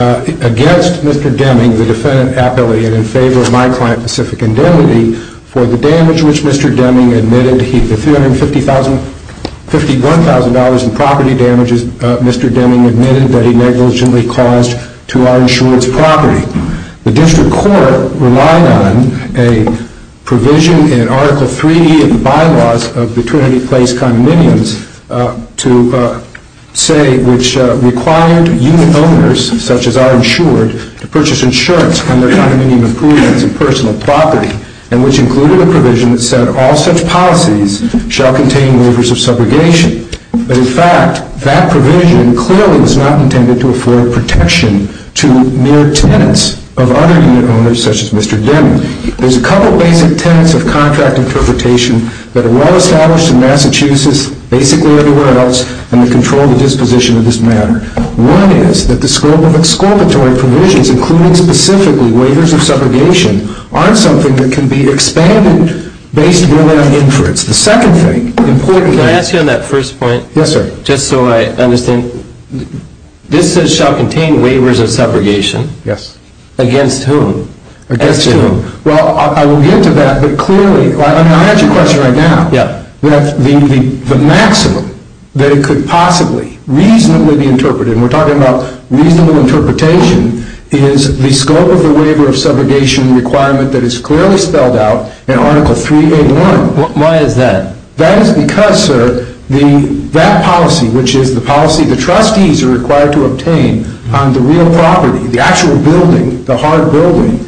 against Mr. Deming, the defendant appellate, and in favor of my client Pacific Indemnity for the damage which Mr. Deming admitted, the $351,000 in property damages Mr. Deming admitted that he negligently caused to our insurance property. The District Court relied on a provision in Article IIIe of the Bylaws of the Trinity Place condominiums to say which required unit owners, such as our insured, to purchase insurance on their condominium improvements and personal property, and which included a provision that said all such policies shall contain waivers of subrogation. But in fact, that provision clearly was not intended to afford protection to mere tenants of other unit owners, such as Mr. Deming. There's a couple of basic tenets of contract interpretation that are well established in Massachusetts, basically everywhere else, and that control the disposition of this matter. One is that the scope of exculpatory provisions, including specifically waivers of subrogation, aren't something that can be expanded based more than on inference. It's the second thing. Can I ask you on that first point? Yes, sir. Just so I understand, this says shall contain waivers of subrogation. Yes. Against whom? Against whom? Well, I will get to that, but clearly, I mean, I'll ask you a question right now. Yeah. The maximum that it could possibly reasonably be interpreted, and we're talking about reasonable interpretation, is the scope of the waiver of subrogation requirement that is clearly spelled out in Article IIIa1. Why is that? That is because, sir, that policy, which is the policy the trustees are required to obtain on the real property, the actual building, the hard building,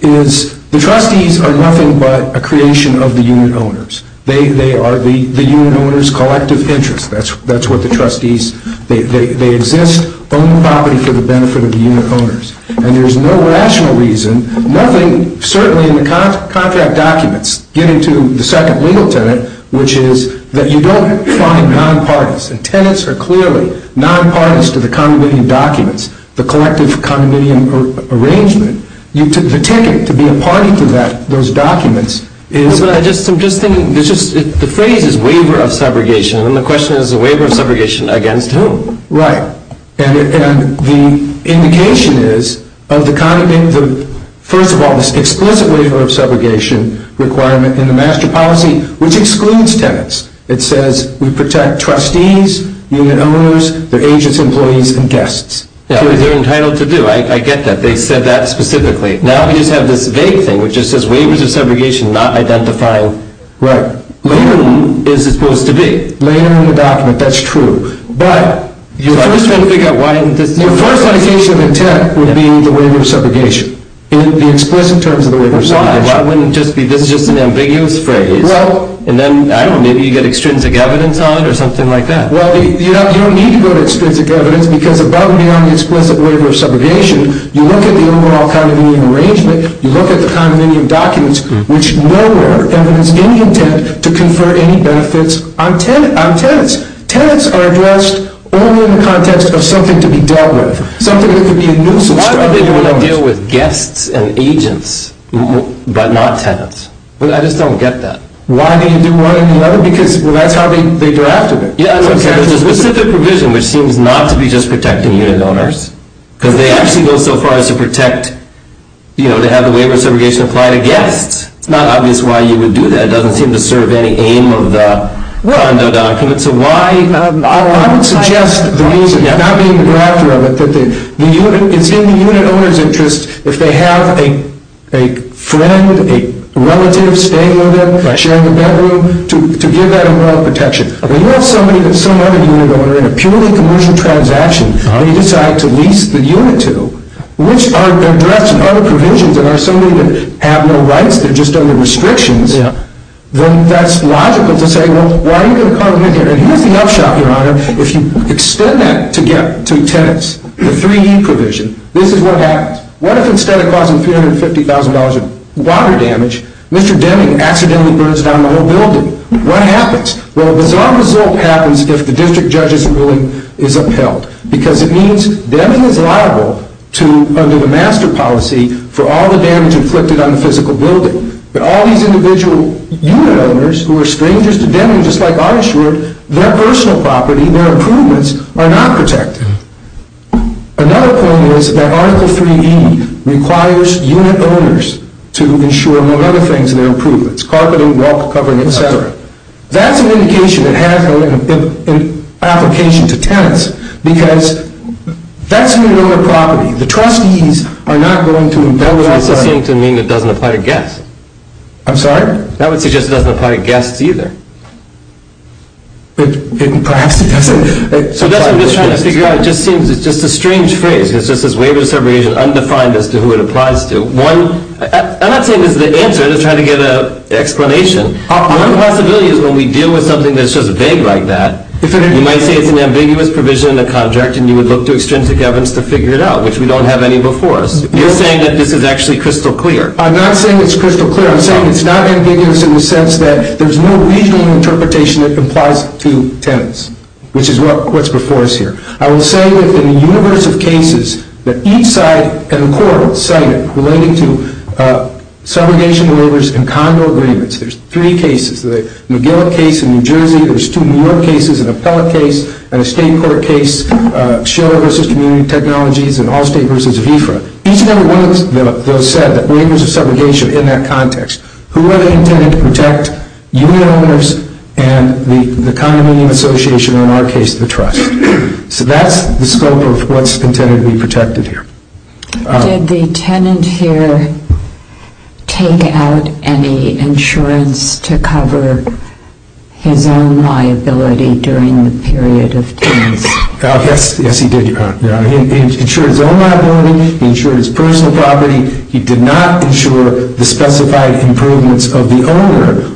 is the trustees are nothing but a creation of the unit owners. They are the unit owners' collective interest. That's what the trustees, they exist on the property for the benefit of the unit owners. And there's no rational reason, nothing, certainly in the contract documents, getting to the second legal tenet, which is that you don't find non-parties. And tenets are clearly non-parties to the condominium documents, the collective condominium arrangement. The ticket to be a party to that, those documents, is- But I'm just thinking, the phrase is waiver of subrogation, and the question is the waiver of subrogation against whom? Right. And the indication is of the condominium, first of all, this explicit waiver of subrogation requirement in the master policy, which excludes tenets. It says we protect trustees, unit owners, their agents, employees, and guests. They're entitled to do. I get that. They said that specifically. Now we just have this vague thing, which just says waivers of subrogation, not identifying- Right. Later is supposed to be. Later in the document, that's true. But- I'm just trying to figure out why- The first indication of intent would be the waiver of subrogation. In the explicit terms of the waiver of subrogation. Why? It wouldn't just be, this is just an ambiguous phrase. Well- And then, I don't know, maybe you get extrinsic evidence on it, or something like that. Well, you don't need to go to extrinsic evidence, because above and beyond the explicit waiver of subrogation, you look at the overall condominium arrangement, you look at the condominium documents, which nowhere evidence any intent to confer any benefits on tenets. Tenets are addressed only in the context of something to be dealt with. Something that could be a nuisance- Why would they want to deal with guests and agents, but not tenets? I just don't get that. Why do you do one and the other? Because that's how they drafted it. Yeah, I don't care. There's a specific provision, which seems not to be just protecting unit owners. Because they actually go so far as to protect, you know, to have the waiver of subrogation apply to guests. It's not obvious why you would do that. It doesn't seem to serve any aim of the condo documents. So why- I would suggest the reason, not being the drafter of it, that it's in the unit owner's interest if they have a friend, a relative staying with them, sharing a bedroom, to give that a moral protection. When you have somebody that's some other unit owner in a purely commercial transaction, and you decide to lease the unit to, which are addressed in other provisions, and are somebody that have no rights, they're just under restrictions, then that's logical to say, well, why are you going to come in here? And here's the upshot, Your Honor. If you extend that to get to tenets, the 3E provision, this is what happens. What if instead of causing $350,000 of water damage, Mr. Deming accidentally burns down the whole building? What happens? Well, a bizarre result happens if the district judge's ruling is upheld. Because it means Deming is liable to, under the master policy, for all the damage inflicted on the physical building. But all these individual unit owners who are strangers to Deming, just like I assured, their personal property, their improvements, are not protected. Another point is that Article 3E requires unit owners to insure, among other things, their improvements. Carpeting, walk covering, et cetera. That's an indication it has an application to tenets. Because that's unit owner property. The trustees are not going to embezzle that property. That doesn't seem to mean it doesn't apply to guests. I'm sorry? That would suggest it doesn't apply to guests either. Perhaps it doesn't. So that's what I'm just trying to figure out. It just seems, it's just a strange phrase. It's just this waiver of separation, undefined as to who it applies to. I'm not saying this is the answer. I'm just trying to get an explanation. One possibility is when we deal with something that's just vague like that, you might say it's an ambiguous provision in the contract, and you would look to extrinsic evidence to figure it out, which we don't have any before us. You're saying that this is actually crystal clear. I'm not saying it's crystal clear. I'm saying it's not ambiguous in the sense that there's no regional interpretation that applies to tenets, which is what's before us here. I will say that in the universe of cases that each side in the court cited relating to subrogation waivers and condo agreements, there's three cases, the McGill case in New Jersey, there's two New York cases, an appellate case and a state court case, Shiller v. Community Technologies and Allstate v. VIFRA. Each of them, one of those said that waivers of subrogation in that context, who are they intended to protect? Union owners and the condominium association, or in our case, the trust. So that's the scope of what's intended to be protected here. Did the tenant here take out any insurance to cover his own liability during the period of tenants? Yes, he did, Your Honor. He insured his own liability. He insured his personal property. He did not insure the specified improvements of the owner.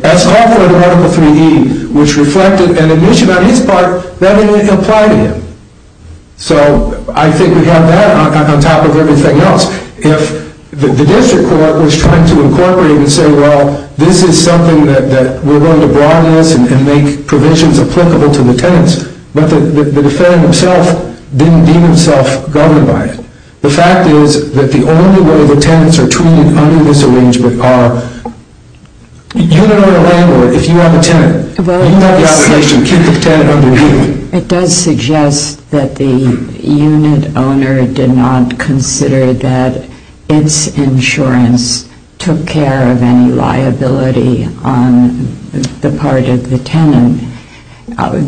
That's all for Article 3E, which reflected an admission on his part that didn't apply to him. So I think we have that on top of everything else. If the district court was trying to incorporate and say, well, this is something that we're going to broaden this and make provisions applicable to the tenants, but the defendant himself didn't deem himself governed by it. The fact is that the only way the tenants are treated under this arrangement are unit owner and landlord. If you have a tenant, you have the obligation to keep the tenant under you. It does suggest that the unit owner did not consider that its insurance took care of any liability on the part of the tenant.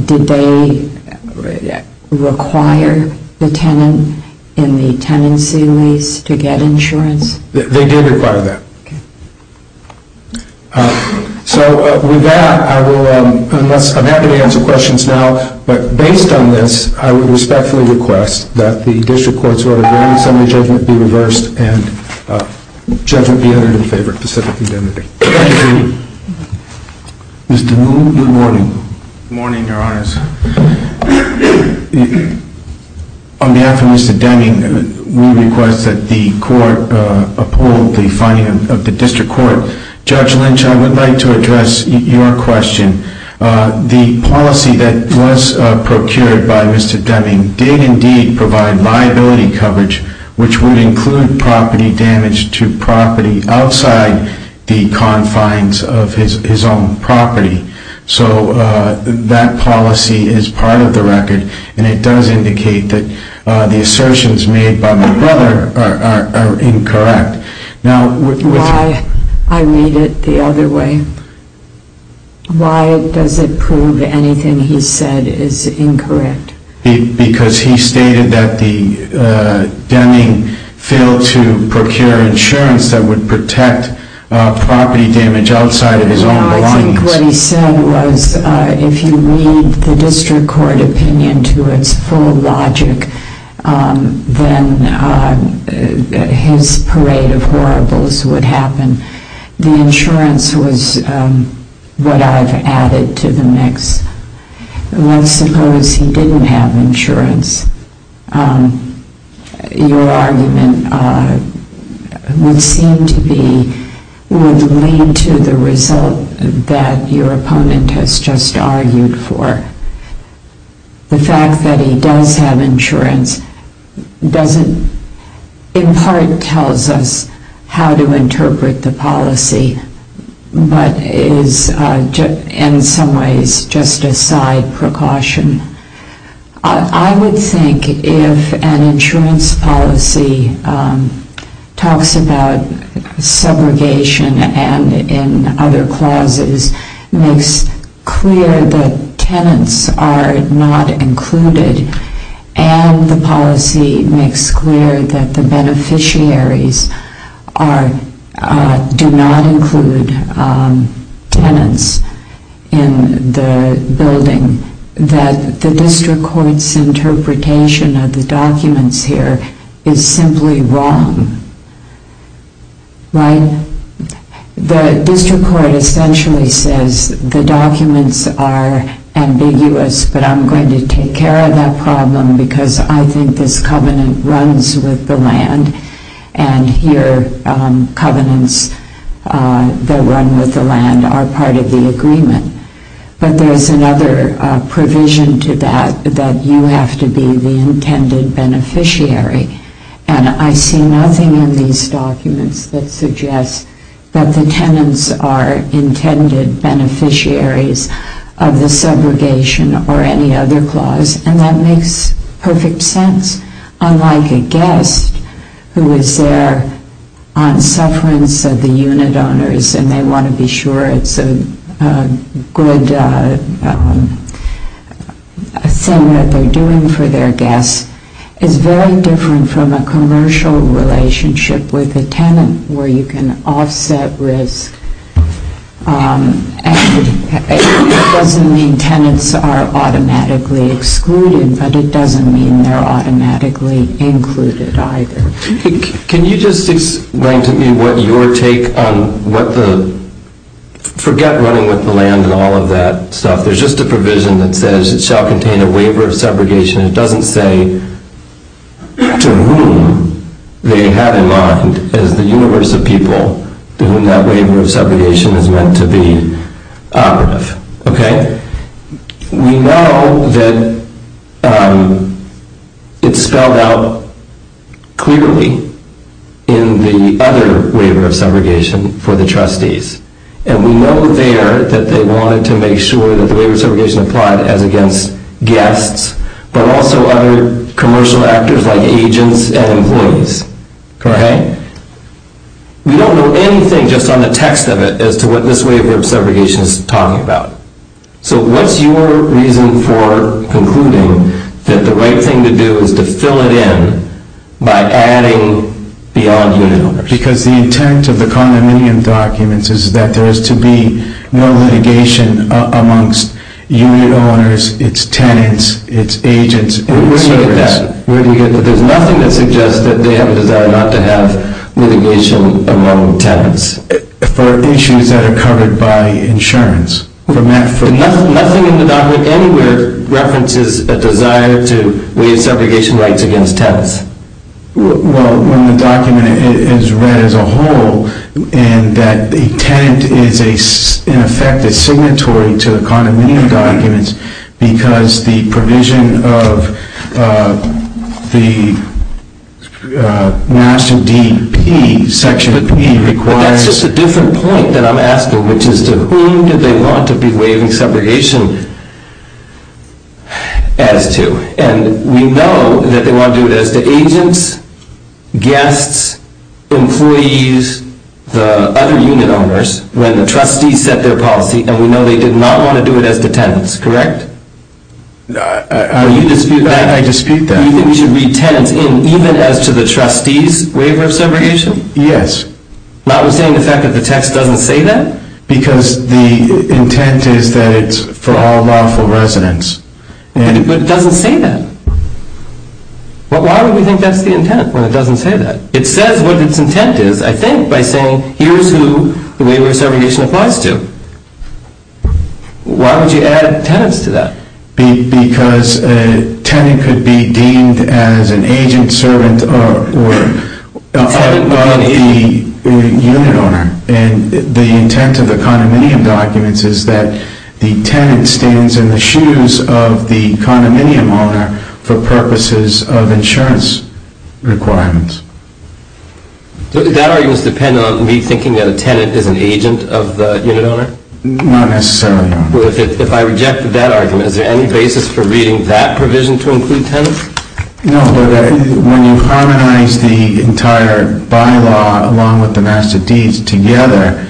Did they require the tenant in the tenancy lease to get insurance? They did require that. Okay. So with that, I'm happy to answer questions now. But based on this, I would respectfully request that the district court's order for assembly judgment be reversed and judgment be entered in favor of specific indemnity. Thank you. Mr. Moon, good morning. Good morning, Your Honors. On behalf of Mr. Deming, we request that the court uphold the finding of the district court. Judge Lynch, I would like to address your question. The policy that was procured by Mr. Deming did indeed provide liability coverage, which would include property damage to property outside the confines of his own property. So that policy is part of the record, and it does indicate that the assertions made by my brother are incorrect. Why? I read it the other way. Why does it prove anything he said is incorrect? Because he stated that Deming failed to procure insurance that would protect property damage outside of his own belongings. Well, I think what he said was if you read the district court opinion to its full logic, then his parade of horribles would happen. The insurance was what I've added to the mix. Well, suppose he didn't have insurance. Your argument would seem to be, would lead to the result that your opponent has just argued for. The fact that he does have insurance doesn't in part tell us how to interpret the policy, but is in some ways just a side precaution. I would think if an insurance policy talks about subrogation and in other clauses makes clear that tenants are not included and the policy makes clear that the beneficiaries do not include tenants in the building, that the district court's interpretation of the documents here is simply wrong. The district court essentially says the documents are ambiguous, but I'm going to take care of that problem because I think this covenant runs with the land and your covenants that run with the land are part of the agreement. But there's another provision to that, that you have to be the intended beneficiary. And I see nothing in these documents that suggests that the tenants are intended beneficiaries of the subrogation or any other clause, and that makes perfect sense. Unlike a guest who is there on sufferance of the unit owners and they want to be sure it's a good thing that they're doing for their guests, it's very different from a commercial relationship with a tenant where you can offset risk. And it doesn't mean tenants are automatically excluded, but it doesn't mean they're automatically included either. Can you just explain to me what your take on what the... Forget running with the land and all of that stuff. There's just a provision that says it shall contain a waiver of subrogation. It doesn't say to whom they have in mind as the universe of people to whom that waiver of subrogation is meant to be operative. We know that it's spelled out clearly in the other waiver of subrogation for the trustees. And we know there that they wanted to make sure that the waiver of subrogation applied as against guests, but also other commercial actors like agents and employees. We don't know anything just on the text of it as to what this waiver of subrogation is talking about. So what's your reason for concluding that the right thing to do is to fill it in by adding beyond unit owners? Because the intent of the condominium documents is that there is to be no litigation amongst unit owners, its tenants, its agents, and its servants. Where do you get that? Where do you get that? There's nothing that suggests that they have a desire not to have litigation among tenants. For issues that are covered by insurance. Nothing in the document anywhere references a desire to waive subrogation rights against tenants. Well, when the document is read as a whole, and that the tenant is in effect a signatory to the condominium documents, because the provision of the master D.P. section requires... But that's just a different point that I'm asking, which is to whom do they want to be waiving subrogation as to? And we know that they want to do it as to agents, guests, employees, the other unit owners, when the trustees set their policy, and we know they did not want to do it as to tenants, correct? I dispute that. You think we should read tenants in even as to the trustees' waiver of subrogation? Yes. Notwithstanding the fact that the text doesn't say that? Because the intent is that it's for all lawful residents. But it doesn't say that. Why would we think that's the intent when it doesn't say that? It says what its intent is, I think, by saying, here's who the waiver of subrogation applies to. Why would you add tenants to that? Because a tenant could be deemed as an agent, servant, or... A tenant being an agent. ...of the condominium owner for purposes of insurance requirements. Does that argument depend on me thinking that a tenant is an agent of the unit owner? Not necessarily, no. Well, if I rejected that argument, is there any basis for reading that provision to include tenants? No. When you harmonize the entire bylaw along with the master deeds together,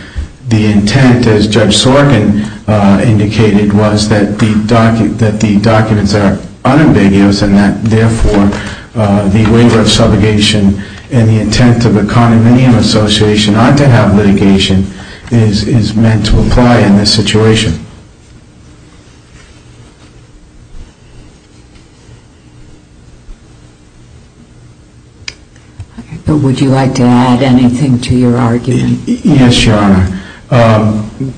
the intent, as Judge Sorkin indicated, was that the documents are unambiguous and that, therefore, the waiver of subrogation and the intent of a condominium association not to have litigation is meant to apply in this situation. Would you like to add anything to your argument? Yes, Your Honor.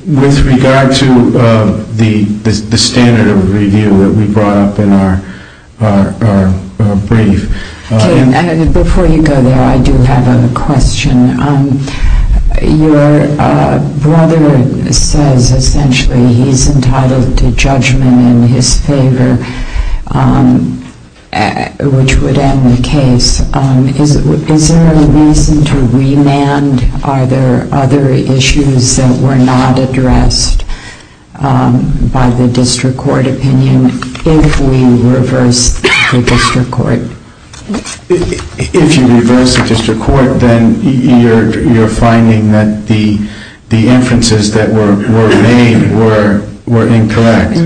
With regard to the standard of review that we brought up in our brief... Before you go there, I do have a question. Your brother says, essentially, he's entitled to judgment in his favor, which would end the case. Is there a reason to remand? Are there other issues that were not addressed by the district court opinion if we reverse the district court? If you reverse the district court, then you're finding that the inferences that were made were incorrect.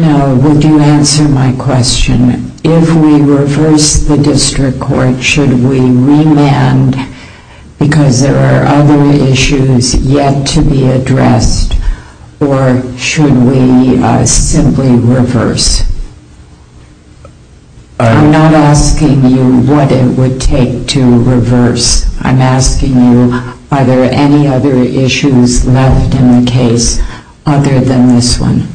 Would you answer my question? If we reverse the district court, should we remand because there are other issues yet to be addressed, or should we simply reverse? I'm not asking you what it would take to reverse. I'm asking you, are there any other issues left in the case other than this one?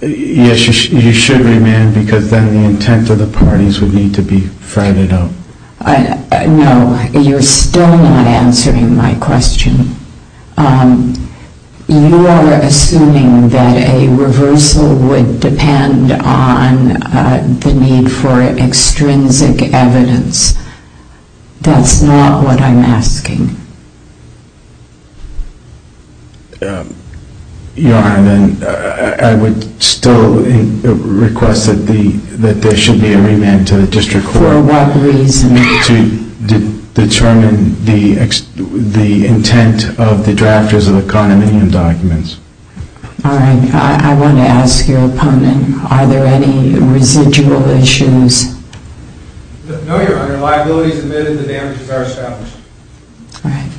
Yes, you should remand because then the intent of the parties would need to be threaded out. No, you're still not answering my question. You are assuming that a reversal would depend on the need for extrinsic evidence. That's not what I'm asking. Your Honor, I would still request that there should be a remand to the district court. For what reason? To determine the intent of the drafters of the condominium documents. All right, I want to ask your opponent, are there any residual issues? No, Your Honor. If there are liabilities admitted, the damages are established. All right.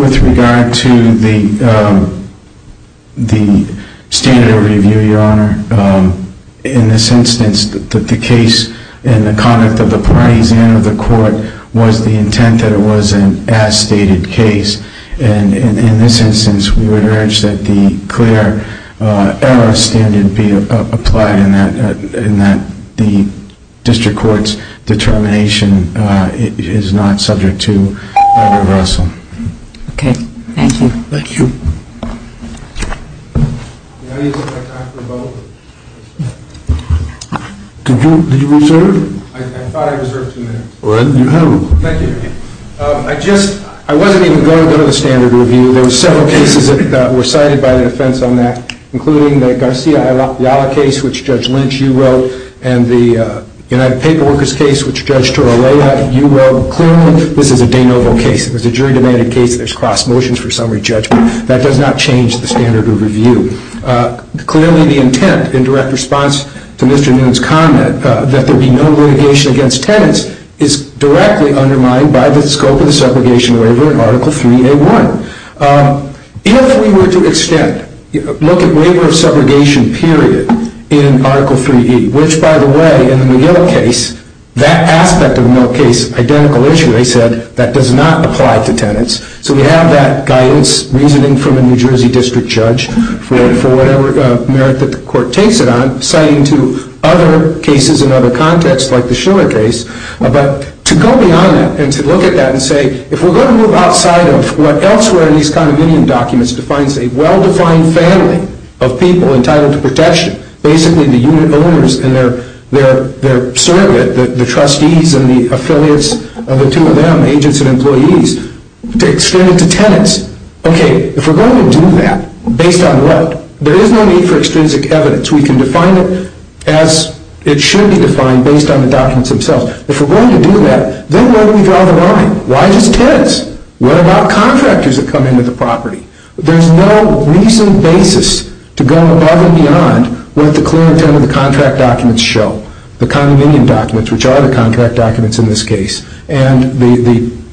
With regard to the standard of review, Your Honor, in this instance, the case in the conduct of the parties and of the court was the intent that it was an as-stated case. And in this instance, we would urge that the clear error standard be applied and that the district court's determination is not subject to a reversal. Okay, thank you. Thank you. Did you reserve? I thought I reserved two minutes. You have. Thank you. I wasn't even going to go to the standard of review. There were several cases that were cited by the defense on that, including the Garcia-Ayala case, which Judge Lynch, you wrote, and the United Paperworkers case, which Judge Torrella, you wrote. Clearly, this is a de novo case. It was a jury-demanded case. There's cross-motions for summary judgment. That does not change the standard of review. Clearly, the intent, in direct response to Mr. Noon's comment, that there be no litigation against tenants is directly undermined by the scope of the subrogation waiver in Article 3A1. If we were to extend, look at waiver of subrogation period in Article 3E, which, by the way, in the McGill case, that aspect of the McGill case, identical issue, they said, that does not apply to tenants. So we have that guidance, reasoning from a New Jersey district judge, for whatever merit that the court takes it on, citing to other cases in other contexts, like the Schiller case. But to go beyond that and to look at that and say, if we're going to move outside of what elsewhere in these condominium documents defines a well-defined family of people entitled to protection, basically the unit owners and their surrogate, the trustees and the affiliates of the two of them, agents and employees, to extend it to tenants. Okay, if we're going to do that, based on what? There is no need for extrinsic evidence. We can define it as it should be defined based on the documents themselves. If we're going to do that, then where do we draw the line? Why just tenants? What about contractors that come into the property? There's no reasoned basis to go above and beyond what the clear intent of the contract documents show, the condominium documents, which are the contract documents in this case, and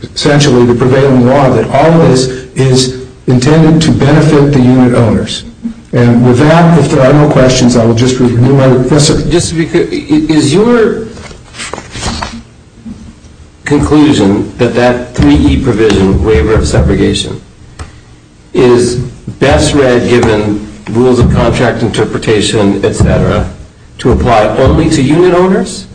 essentially the prevailing law that all of this is intended to benefit the unit owners. And with that, if there are no questions, I will just renew my request. Just to be clear, is your conclusion that that 3E provision, waiver of segregation, is best read given rules of contract interpretation, et cetera, to apply only to unit owners?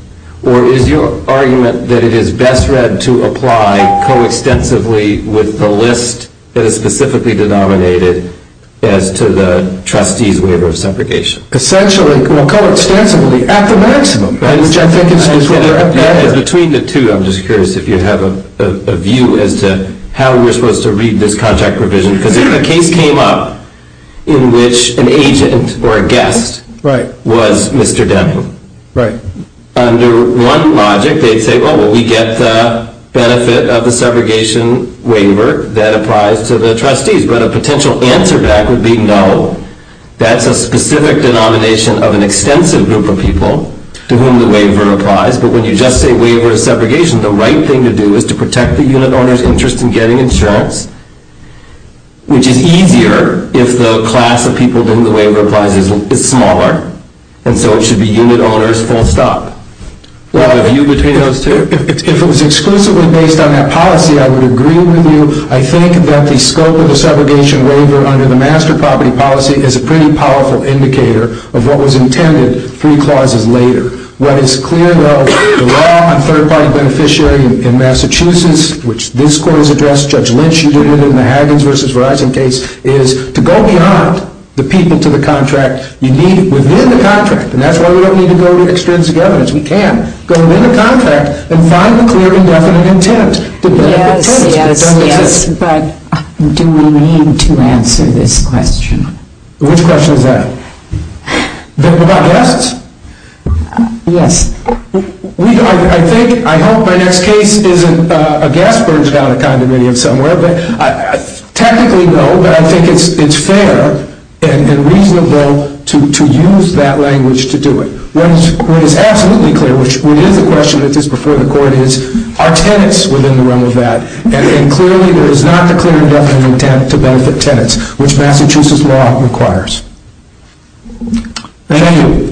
Or is your argument that it is best read to apply coextensively with the list that is specifically denominated as to the trustee's waiver of segregation? Essentially, coextensively, at the maximum. I think it's between the two. I'm just curious if you have a view as to how we're supposed to read this contract provision. Because if a case came up in which an agent or a guest was Mr. Deming, under one logic, they'd say, well, we get the benefit of the segregation waiver that applies to the trustees. But a potential answer back would be no. That's a specific denomination of an extensive group of people to whom the waiver applies. But when you just say waiver of segregation, the right thing to do is to protect the unit owner's interest in getting insurance, which is easier if the class of people to whom the waiver applies is smaller. And so it should be unit owners full stop. Do I have a view between those two? If it was exclusively based on that policy, I would agree with you. I think that the scope of the segregation waiver under the master property policy is a pretty powerful indicator of what was intended three clauses later. What is clear, though, the law on third-party beneficiary in Massachusetts, which this court has addressed, Judge Lynch, you did it in the Haggins v. Verizon case, is to go beyond the people to the contract. You need it within the contract. And that's why we don't need to go to extrinsic evidence. We can go within the contract and find the clear indefinite intent. Yes, but do we need to answer this question? Which question is that? About guests? Yes. I think, I hope my next case isn't a gas-burned condominium somewhere. Technically, no, but I think it's fair and reasonable to use that language to do it. What is absolutely clear, which is the question that is before the court is, are tenants within the realm of that? And clearly there is not the clear indefinite intent to benefit tenants, Thank you.